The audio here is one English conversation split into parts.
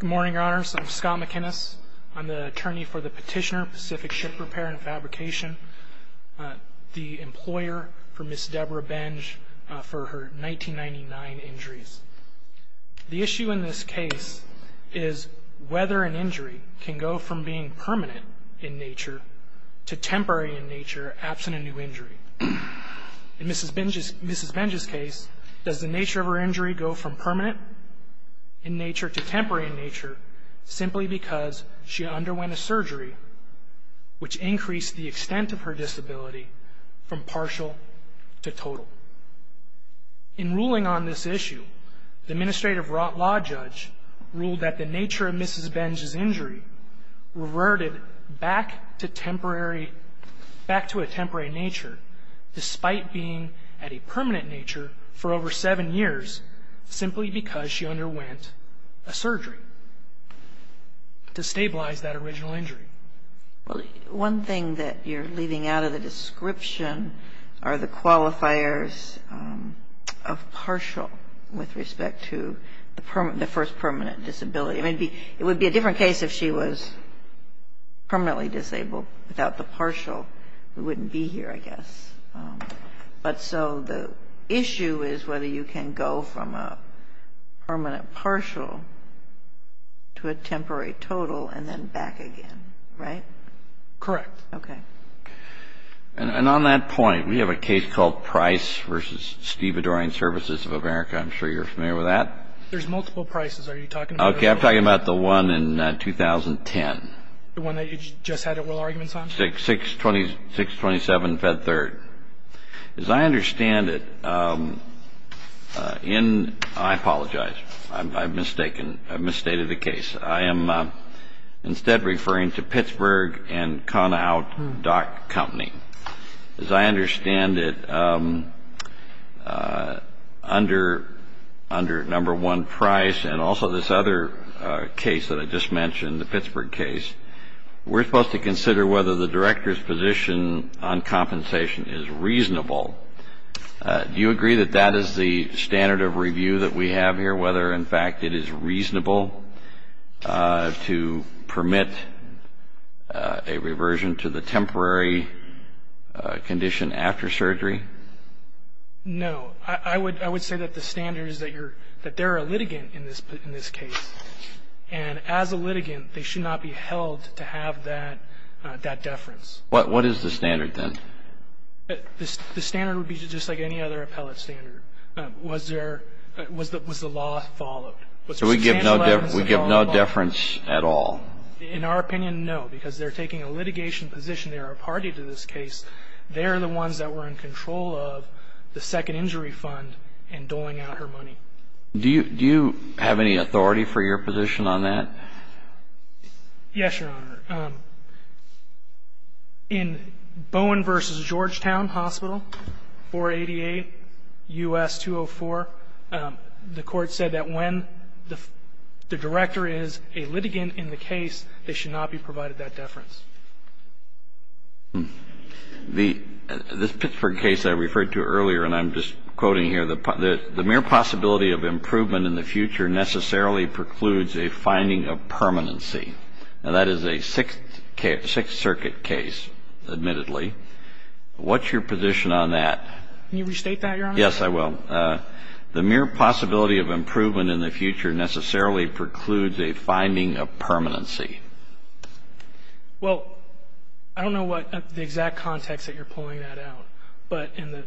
Good morning, Your Honors. I'm Scott McInnis. I'm the attorney for the Petitioner Pacific Ship Repair and Fabrication, the employer for Ms. Deborah Benge for her 1999 injuries. The issue in this case is whether an injury can go from being permanent in nature to temporary in nature, absent a new injury. In Mrs. Benge's case, does the nature of her injury go from permanent in nature to temporary in nature, simply because she underwent a surgery which increased the extent of her disability from partial to total? In ruling on this issue, the Administrative Law Judge ruled that the nature of Mrs. Benge's injury reverted back to temporary, despite being at a permanent nature for over seven years, simply because she underwent a surgery to stabilize that original injury. One thing that you're leaving out of the description are the qualifiers of partial with respect to the first permanent disability. I mean, it would be a different case if she was permanently disabled without the partial. We wouldn't be here, I guess. But so the issue is whether you can go from a permanent partial to a temporary total and then back again, right? Correct. Okay. And on that point, we have a case called Price v. Steve Adorian Services of America. I'm sure you're familiar with that. There's multiple Prices. Are you talking about those? Okay. I'm talking about the one in 2010. The one that you just had oral arguments on? 627 Fed Third. As I understand it, in – I apologize. I've mistaken. I've misstated the case. I am instead referring to Pittsburgh and Conout Dock Company. As I understand it, under number one, Price, and also this other case that I just mentioned, the Pittsburgh case, we're supposed to consider whether the director's position on compensation is reasonable. Do you agree that that is the standard of review that we have here, whether, in fact, it is reasonable to permit a reversion to the temporary condition after surgery? No. I would say that the standard is that you're – that they're a litigant in this case. And as a litigant, they should not be held to have that deference. What is the standard then? The standard would be just like any other appellate standard. Was there – was the law followed? So we give no deference at all? In our opinion, no, because they're taking a litigation position. They're a party to this case. They're the ones that were in control of the second injury fund and doling out her money. Do you have any authority for your position on that? Yes, Your Honor. In Bowen v. Georgetown Hospital, 488 U.S. 204, the Court said that when the director is a litigant in the case, they should not be provided that deference. The – this Pittsburgh case I referred to earlier, and I'm just quoting here, the mere possibility of improvement in the future necessarily precludes a finding of permanency. Now, that is a Sixth Circuit case, admittedly. What's your position on that? Can you restate that, Your Honor? Yes, I will. The mere possibility of improvement in the future necessarily precludes a finding of permanency. Well, I don't know what the exact context that you're pulling that out, but in the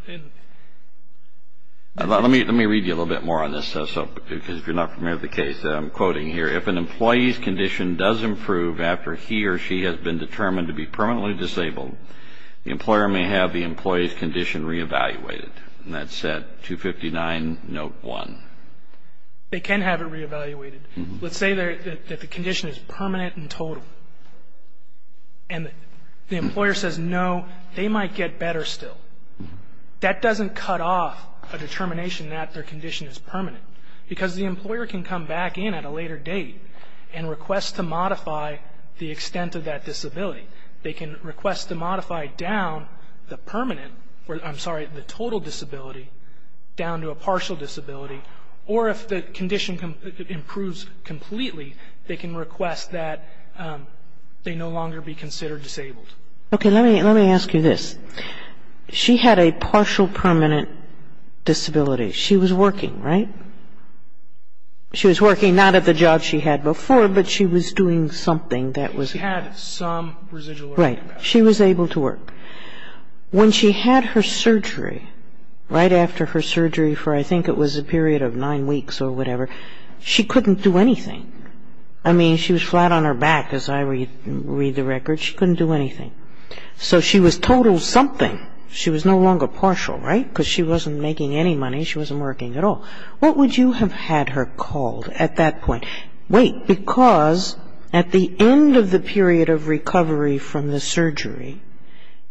– Let me read you a little bit more on this, because if you're not familiar with the case that I'm quoting here. If an employee's condition does improve after he or she has been determined to be permanently disabled, the employer may have the employee's condition re-evaluated. And that's at 259, Note 1. They can have it re-evaluated. Let's say that the condition is permanent and total, and the employer says no, they might get better still. That doesn't cut off a determination that their condition is permanent, because the employer can come back in at a later date and request to modify the extent of that disability. They can request to modify down the permanent – I'm sorry, the total disability down to a partial disability, or if the condition improves completely, they can request that they no longer be considered disabled. Okay. Let me ask you this. She had a partial permanent disability. She was working, right? She was working not at the job she had before, but she was doing something that was – She had some residual – Right. She was able to work. When she had her surgery, right after her surgery for I think it was a period of nine weeks or whatever, she couldn't do anything. I mean, she was flat on her back, as I read the record. She couldn't do anything. So she was total something. She was no longer partial, right? Because she wasn't making any money. She wasn't working at all. What would you have had her called at that point? Wait, because at the end of the period of recovery from the surgery,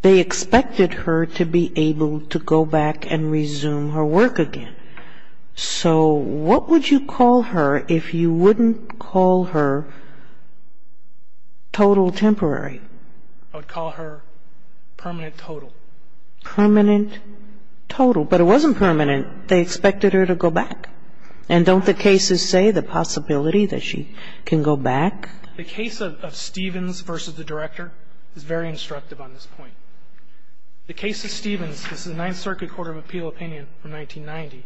they expected her to be able to go back and resume her work again. So what would you call her if you wouldn't call her total temporary? I would call her permanent total. Permanent total. But it wasn't permanent. They expected her to go back. And don't the cases say the possibility that she can go back? The case of Stevens versus the director is very instructive on this point. The case of Stevens, this is the Ninth Circuit Court of Appeal opinion from 1990,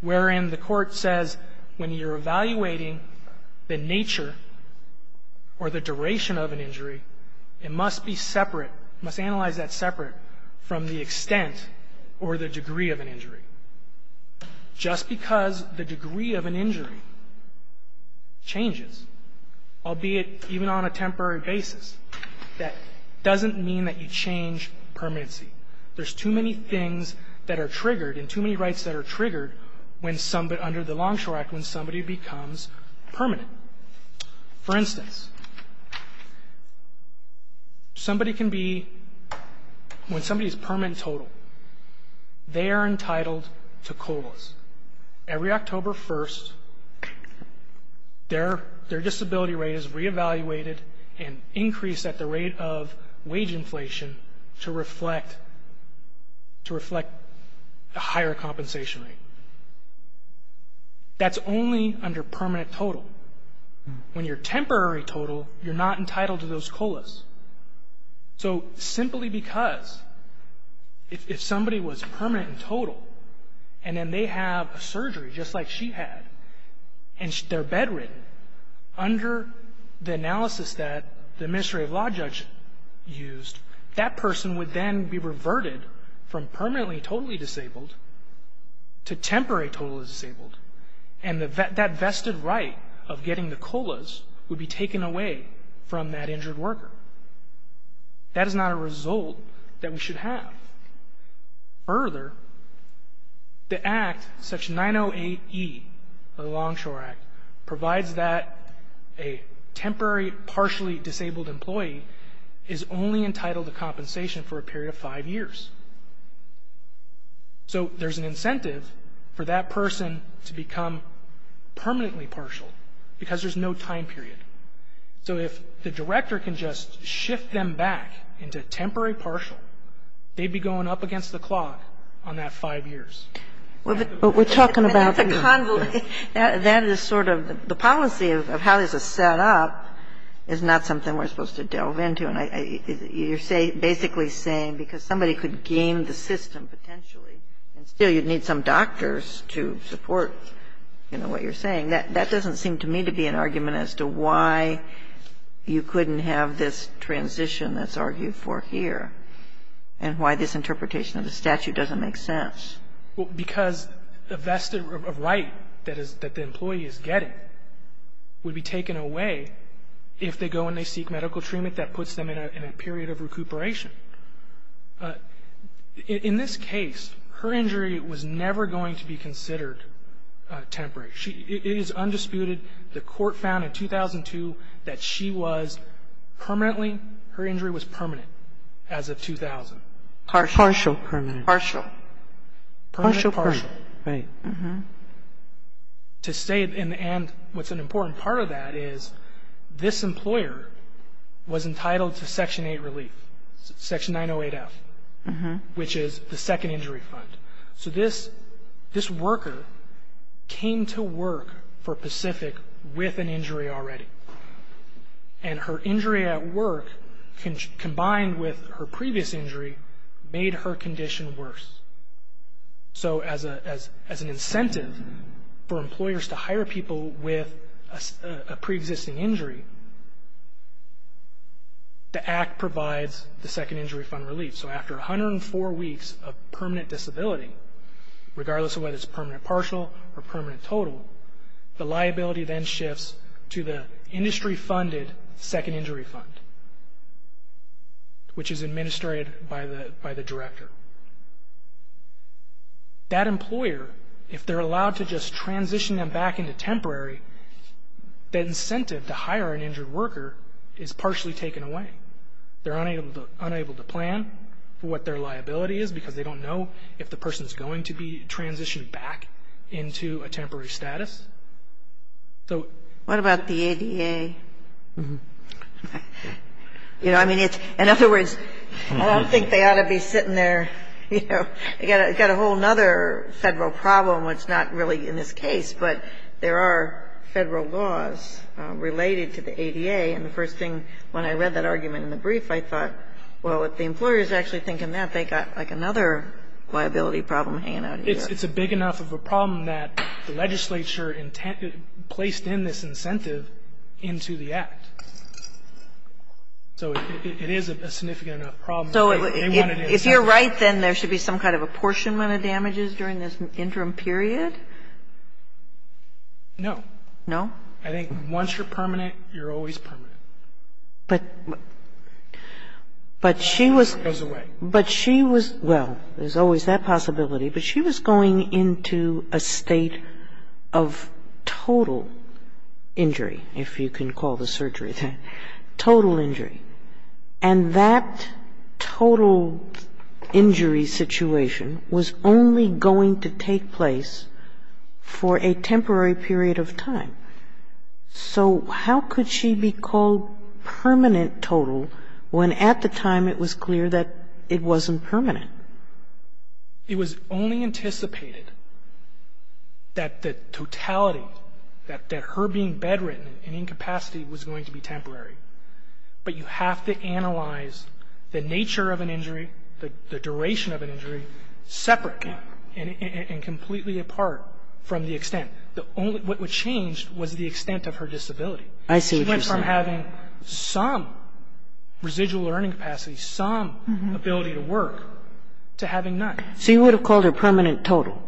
wherein the court says when you're evaluating the nature or the duration of an injury, it must be separate, must analyze that separate from the extent or the degree of an injury. Just because the degree of an injury changes, albeit even on a temporary basis, that doesn't mean that you change permanency. There's too many things that are triggered and too many rights that are triggered under the Longshore Act when somebody becomes permanent. For instance, somebody can be, when somebody is permanent total, they are entitled to COLAs. Every October 1st, their disability rate is reevaluated and increased at the rate of wage inflation to reflect a higher compensation rate. That's only under permanent total. When you're temporary total, you're not entitled to those COLAs. So simply because if somebody was permanent and total and then they have a surgery just like she had and they're bedridden, under the analysis that the administrative law judge used, that person would then be reverted from permanently totally disabled to temporary totally disabled, and that vested right of getting the COLAs would be taken away from that injured worker. That is not a result that we should have. Further, the Act, Section 908E of the Longshore Act, provides that a temporary partially disabled employee is only entitled to compensation for a period of five years. So there's an incentive for that person to become permanently partial because there's no time period. So if the director can just shift them back into temporary partial, they'd be going up against the clock on that five years. But we're talking about the law. That is sort of the policy of how this is set up is not something we're supposed to delve into. And you're basically saying because somebody could game the system potentially and still you'd need some doctors to support, you know, what you're saying, that doesn't seem to me to be an argument as to why you couldn't have this transition that's argued for here and why this interpretation of the statute doesn't make sense. Well, because the vested right that the employee is getting would be taken away if they go and they seek medical treatment that puts them in a period of recuperation. In this case, her injury was never going to be considered temporary. It is undisputed. The court found in 2002 that she was permanently, her injury was permanent as of 2000. Partial. Partial. Partial. Partial. Partial. Partial. Right. To say in the end what's an important part of that is this employer was entitled to Section 8 relief, Section 908F, which is the second injury fund. So this worker came to work for Pacific with an injury already, and her injury at work combined with her previous injury made her condition worse. So as an incentive for employers to hire people with a preexisting injury, the Act provides the second injury fund relief. So after 104 weeks of permanent disability, regardless of whether it's permanent partial or permanent total, the liability then shifts to the industry-funded second injury fund, which is administrated by the director. That employer, if they're allowed to just transition them back into temporary, that incentive to hire an injured worker is partially taken away. They're unable to plan for what their liability is because they don't know if the person is going to be transitioned back into a temporary status. So what about the ADA? You know, I mean, in other words, I don't think they ought to be sitting there, you know. They've got a whole other Federal problem which is not really in this case, but there are Federal laws related to the ADA. And the first thing, when I read that argument in the brief, I thought, well, if the employer is actually thinking that, they've got like another liability problem hanging out in the air. It's a big enough of a problem that the legislature placed in this incentive into the Act. So it is a significant enough problem. So if you're right, then there should be some kind of apportionment of damages during this interim period? No. No? I think once you're permanent, you're always permanent. But she was going into a state of total injury, if you can call the surgery that, total injury. And that total injury situation was only going to take place for a temporary period of time. So how could she be called permanent total when at the time it was clear that it wasn't permanent? It was only anticipated that the totality, that her being bedridden in incapacity was going to be temporary. But you have to analyze the nature of an injury, the duration of an injury, separate and completely apart from the extent. What changed was the extent of her disability. I see what you're saying. She went from having some residual earning capacity, some ability to work, to having none. So you would have called her permanent total?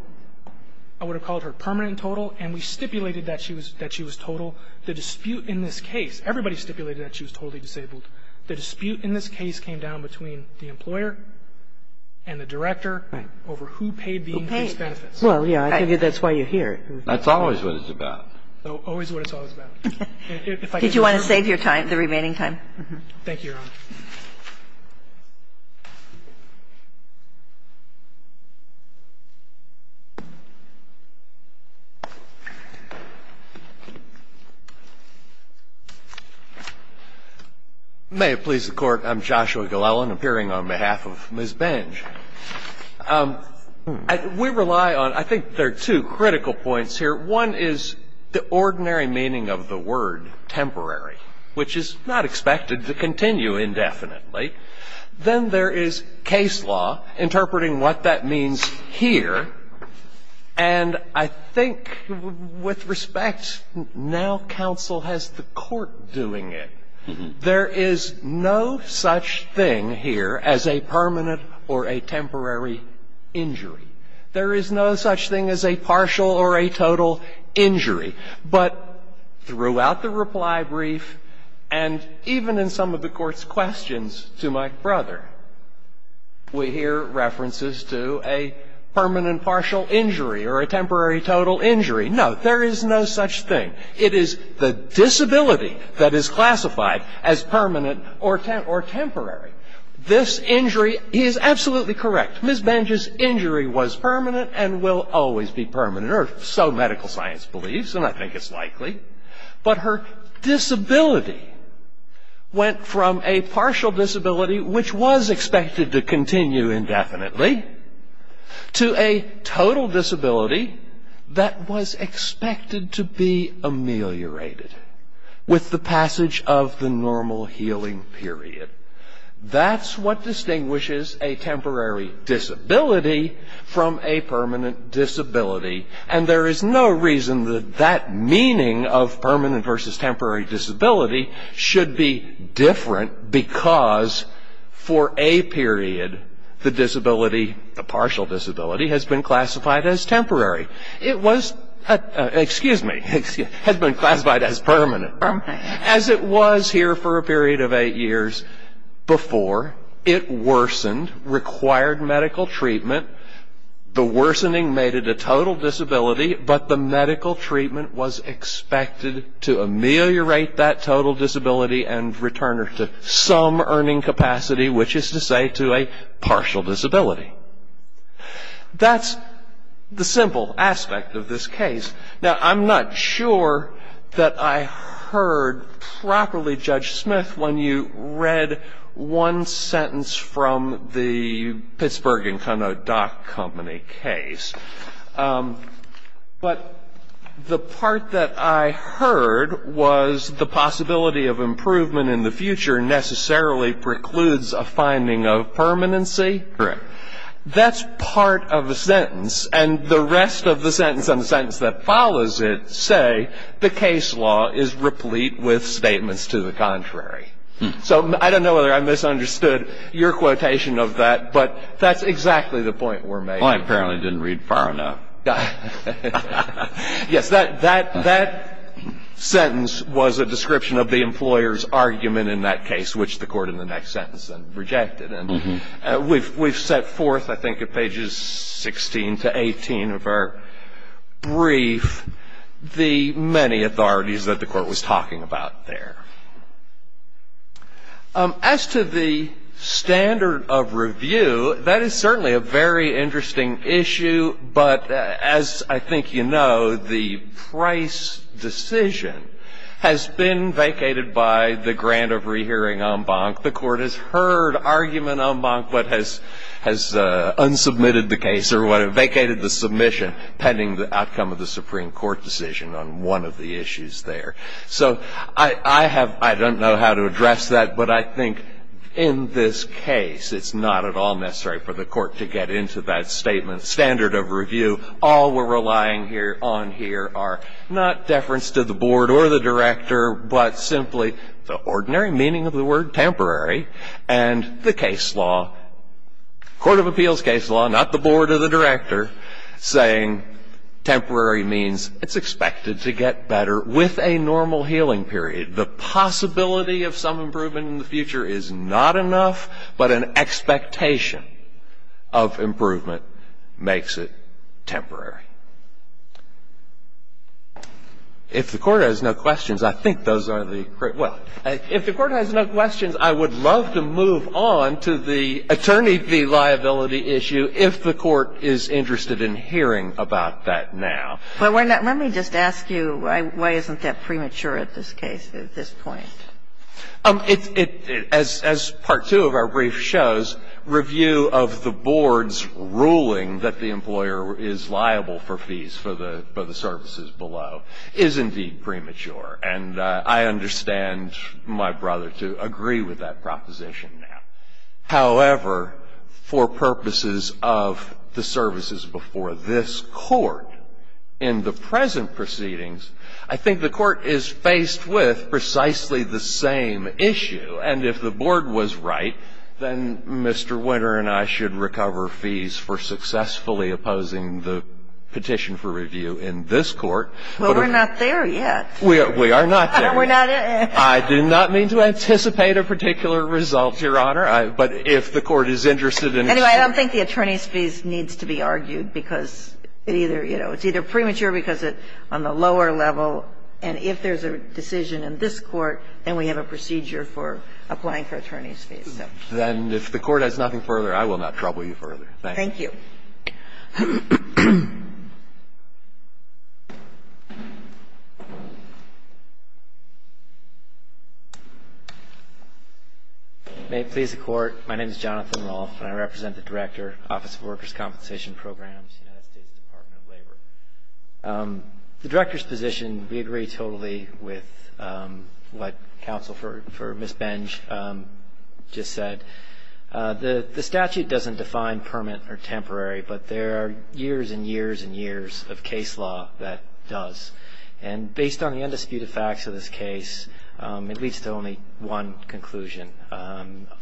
I would have called her permanent total. And we stipulated that she was total. The dispute in this case, everybody stipulated that she was totally disabled. The dispute in this case came down between the employer and the director over who paid the increased benefits. Well, yeah, I think that's why you're here. That's always what it's about. Always what it's always about. Did you want to save your time, the remaining time? Thank you, Your Honor. May it please the Court. I'm Joshua Glellen, appearing on behalf of Ms. Benge. We rely on, I think there are two critical points here. One is the ordinary meaning of the word temporary, which is not expected to continue indefinitely. Then there is case law, interpreting what that means here. And I think with respect, now counsel has the court doing it. There is no such thing here as a permanent or a temporary injury. There is no such thing as a partial or a total injury. But throughout the reply brief and even in some of the Court's questions to my brother, we hear references to a permanent partial injury or a temporary total injury. No, there is no such thing. It is the disability that is classified as permanent or temporary. This injury is absolutely correct. Ms. Benge's injury was permanent and will always be permanent, or so medical science believes, and I think it's likely. But her disability went from a partial disability, which was expected to continue indefinitely, to a total disability that was expected to be ameliorated with the passage of the normal healing period. That's what distinguishes a temporary disability from a permanent disability. And there is no reason that that meaning of permanent versus temporary disability should be different because for a period the disability, the partial disability, has been classified as temporary. It was, excuse me, has been classified as permanent. As it was here for a period of eight years before, it worsened, required medical treatment. The worsening made it a total disability, but the medical treatment was expected to ameliorate that total disability and return her to some earning capacity, which is to say to a partial disability. That's the simple aspect of this case. Now, I'm not sure that I heard properly, Judge Smith, when you read one sentence from the Pittsburgh Incono Dock Company case. But the part that I heard was the possibility of improvement in the future necessarily precludes a finding of permanency. Correct. That's part of the sentence, and the rest of the sentence and the sentence that follows it say the case law is replete with statements to the contrary. So I don't know whether I misunderstood your quotation of that, but that's exactly the point we're making. Well, I apparently didn't read far enough. Yes, that sentence was a description of the employer's argument in that case, which the Court in the next sentence then rejected. And we've set forth, I think, at pages 16 to 18 of our brief, the many authorities that the Court was talking about there. As to the standard of review, that is certainly a very interesting issue. But as I think you know, the Price decision has been vacated by the grant of rehearing en banc. The Court has heard argument en banc, but has unsubmitted the case or vacated the submission pending the outcome of the Supreme Court decision on one of the issues there. So I don't know how to address that, but I think in this case, it's not at all necessary for the Court to get into that standard of review. All we're relying on here are not deference to the board or the director, but simply the ordinary meaning of the word temporary and the case law, court of appeals case law, not the board or the director, saying temporary means it's expected to get better with a normal healing period. The possibility of some improvement in the future is not enough, but an expectation of improvement makes it temporary. If the Court has no questions, I think those are the great ones. If the Court has no questions, I would love to move on to the attorney v. liability issue if the Court is interested in hearing about that now. Let me just ask you, why isn't that premature at this case, at this point? As part two of our brief shows, review of the board's ruling that the employer is liable for fees for the services below is indeed premature. And I understand my brother to agree with that proposition now. However, for purposes of the services before this Court in the present proceedings, I think the Court is faced with precisely the same issue. And if the board was right, then Mr. Winter and I should recover fees for successfully opposing the petition for review in this Court. Well, we're not there yet. We are not there yet. I do not mean to anticipate a particular result, Your Honor. But if the Court is interested in its own fees. Anyway, I don't think the attorney's fees needs to be argued, because it either you know, it's either premature because it's on the lower level, and if there's a decision in this Court, then we have a procedure for applying for attorney's fees. So. Then if the Court has nothing further, I will not trouble you further. Thank you. Thank you. May it please the Court. My name is Jonathan Rolfe, and I represent the Director, Office of Workers' Compensation Programs, United States Department of Labor. The Director's position, we agree totally with what counsel for Ms. Benj just said. The statute doesn't define permanent or temporary, but there are years and years and years of case law that does. And based on the undisputed facts of this case, it leads to only one conclusion.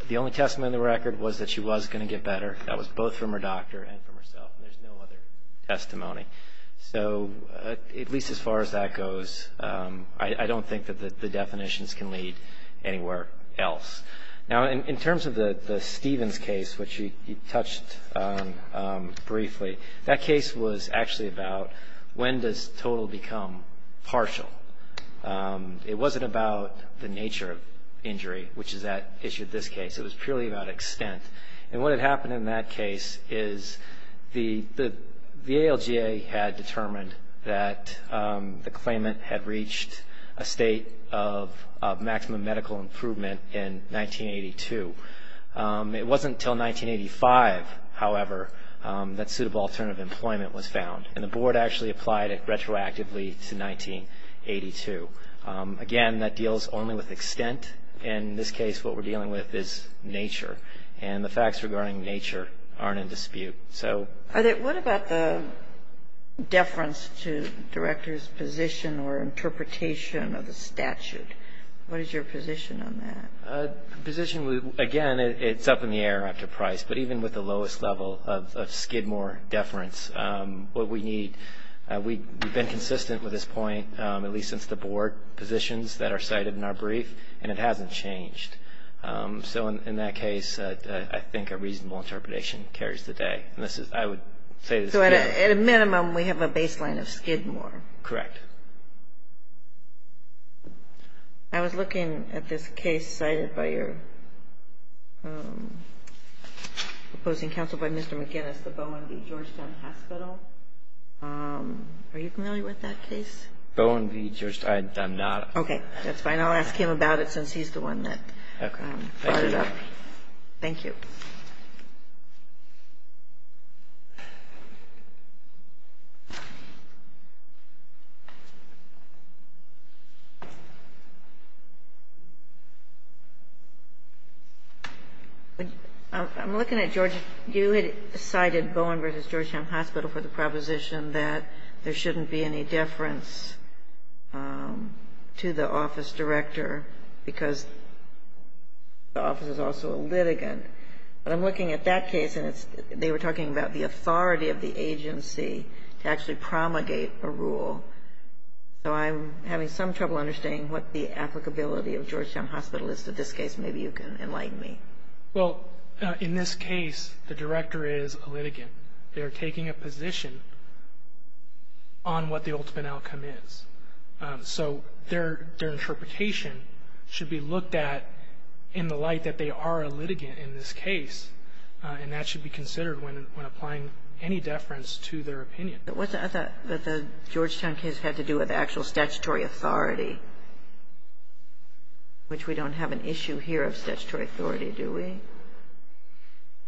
The only testimony on the record was that she was going to get better. That was both from her doctor and from herself. There's no other testimony. So at least as far as that goes, I don't think that the definitions can lead anywhere else. Now, in terms of the Stevens case, which you touched on briefly, that case was actually about when does total become partial. It wasn't about the nature of injury, which is at issue in this case. It was purely about extent. And what had happened in that case is the ALGA had determined that the claimant had reached a state of maximum medical improvement in 1982. It wasn't until 1985, however, that suitable alternative employment was found. And the board actually applied it retroactively to 1982. Again, that deals only with extent. In this case, what we're dealing with is nature. And the facts regarding nature aren't in dispute. What about the deference to director's position or interpretation of the statute? What is your position on that? Again, it's up in the air after Price. But even with the lowest level of Skidmore deference, what we need, we've been consistent with this point at least since the board positions that are cited in our brief, and it hasn't changed. So in that case, I think a reasonable interpretation carries the day. I would say this again. So at a minimum, we have a baseline of Skidmore. Correct. I was looking at this case cited by your opposing counsel by Mr. McInnis, the Bowen v. Georgetown Hospital. Are you familiar with that case? Bowen v. Georgetown? I'm not. Okay, that's fine. I'll ask him about it since he's the one that brought it up. Thank you. I'm looking at George. You had cited Bowen v. Georgetown Hospital for the proposition that there shouldn't be any deference to the office director because the office is also a litigant. But I'm looking at that case, and they were talking about the authority of the agency to actually promulgate a rule. So I'm having some trouble understanding what the applicability of Georgetown Hospital is to this case. Maybe you can enlighten me. Well, in this case, the director is a litigant. They're taking a position on what the ultimate outcome is. So their interpretation should be looked at in the light that they are a litigant in this case, and that should be considered when applying any deference to their opinion. But what's the Georgetown case had to do with actual statutory authority, which we don't have an issue here of statutory authority, do we?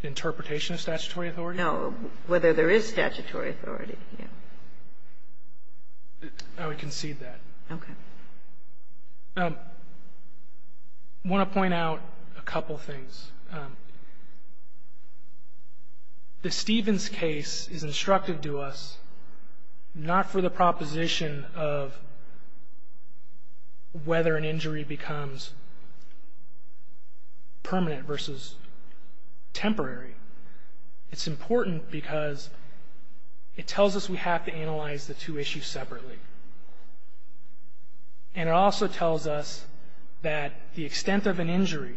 Interpretation of statutory authority? No, whether there is statutory authority. I would concede that. Okay. I want to point out a couple things. The Stevens case is instructive to us not for the proposition of whether an injury becomes permanent versus temporary. It's important because it tells us we have to analyze the two issues separately. And it also tells us that the extent of an injury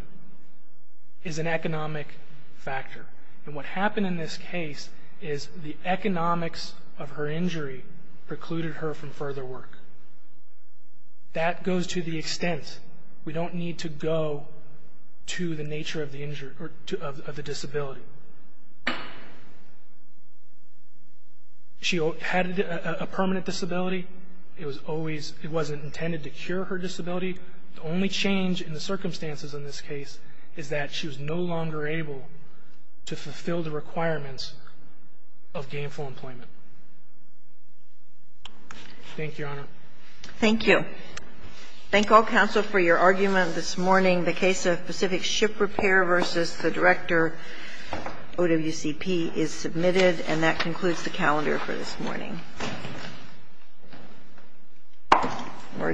is an economic factor. And what happened in this case is the economics of her injury precluded her from further work. That goes to the extent. We don't need to go to the nature of the disability. She had a permanent disability. It wasn't intended to cure her disability. The only change in the circumstances in this case is that she was no longer able to fulfill the requirements of gainful employment. Thank you, Your Honor. Thank you. Thank all counsel for your argument this morning. The case of Pacific Ship Repair v. the Director, OWCP, is submitted. And that concludes the calendar for this morning. We're adjourned.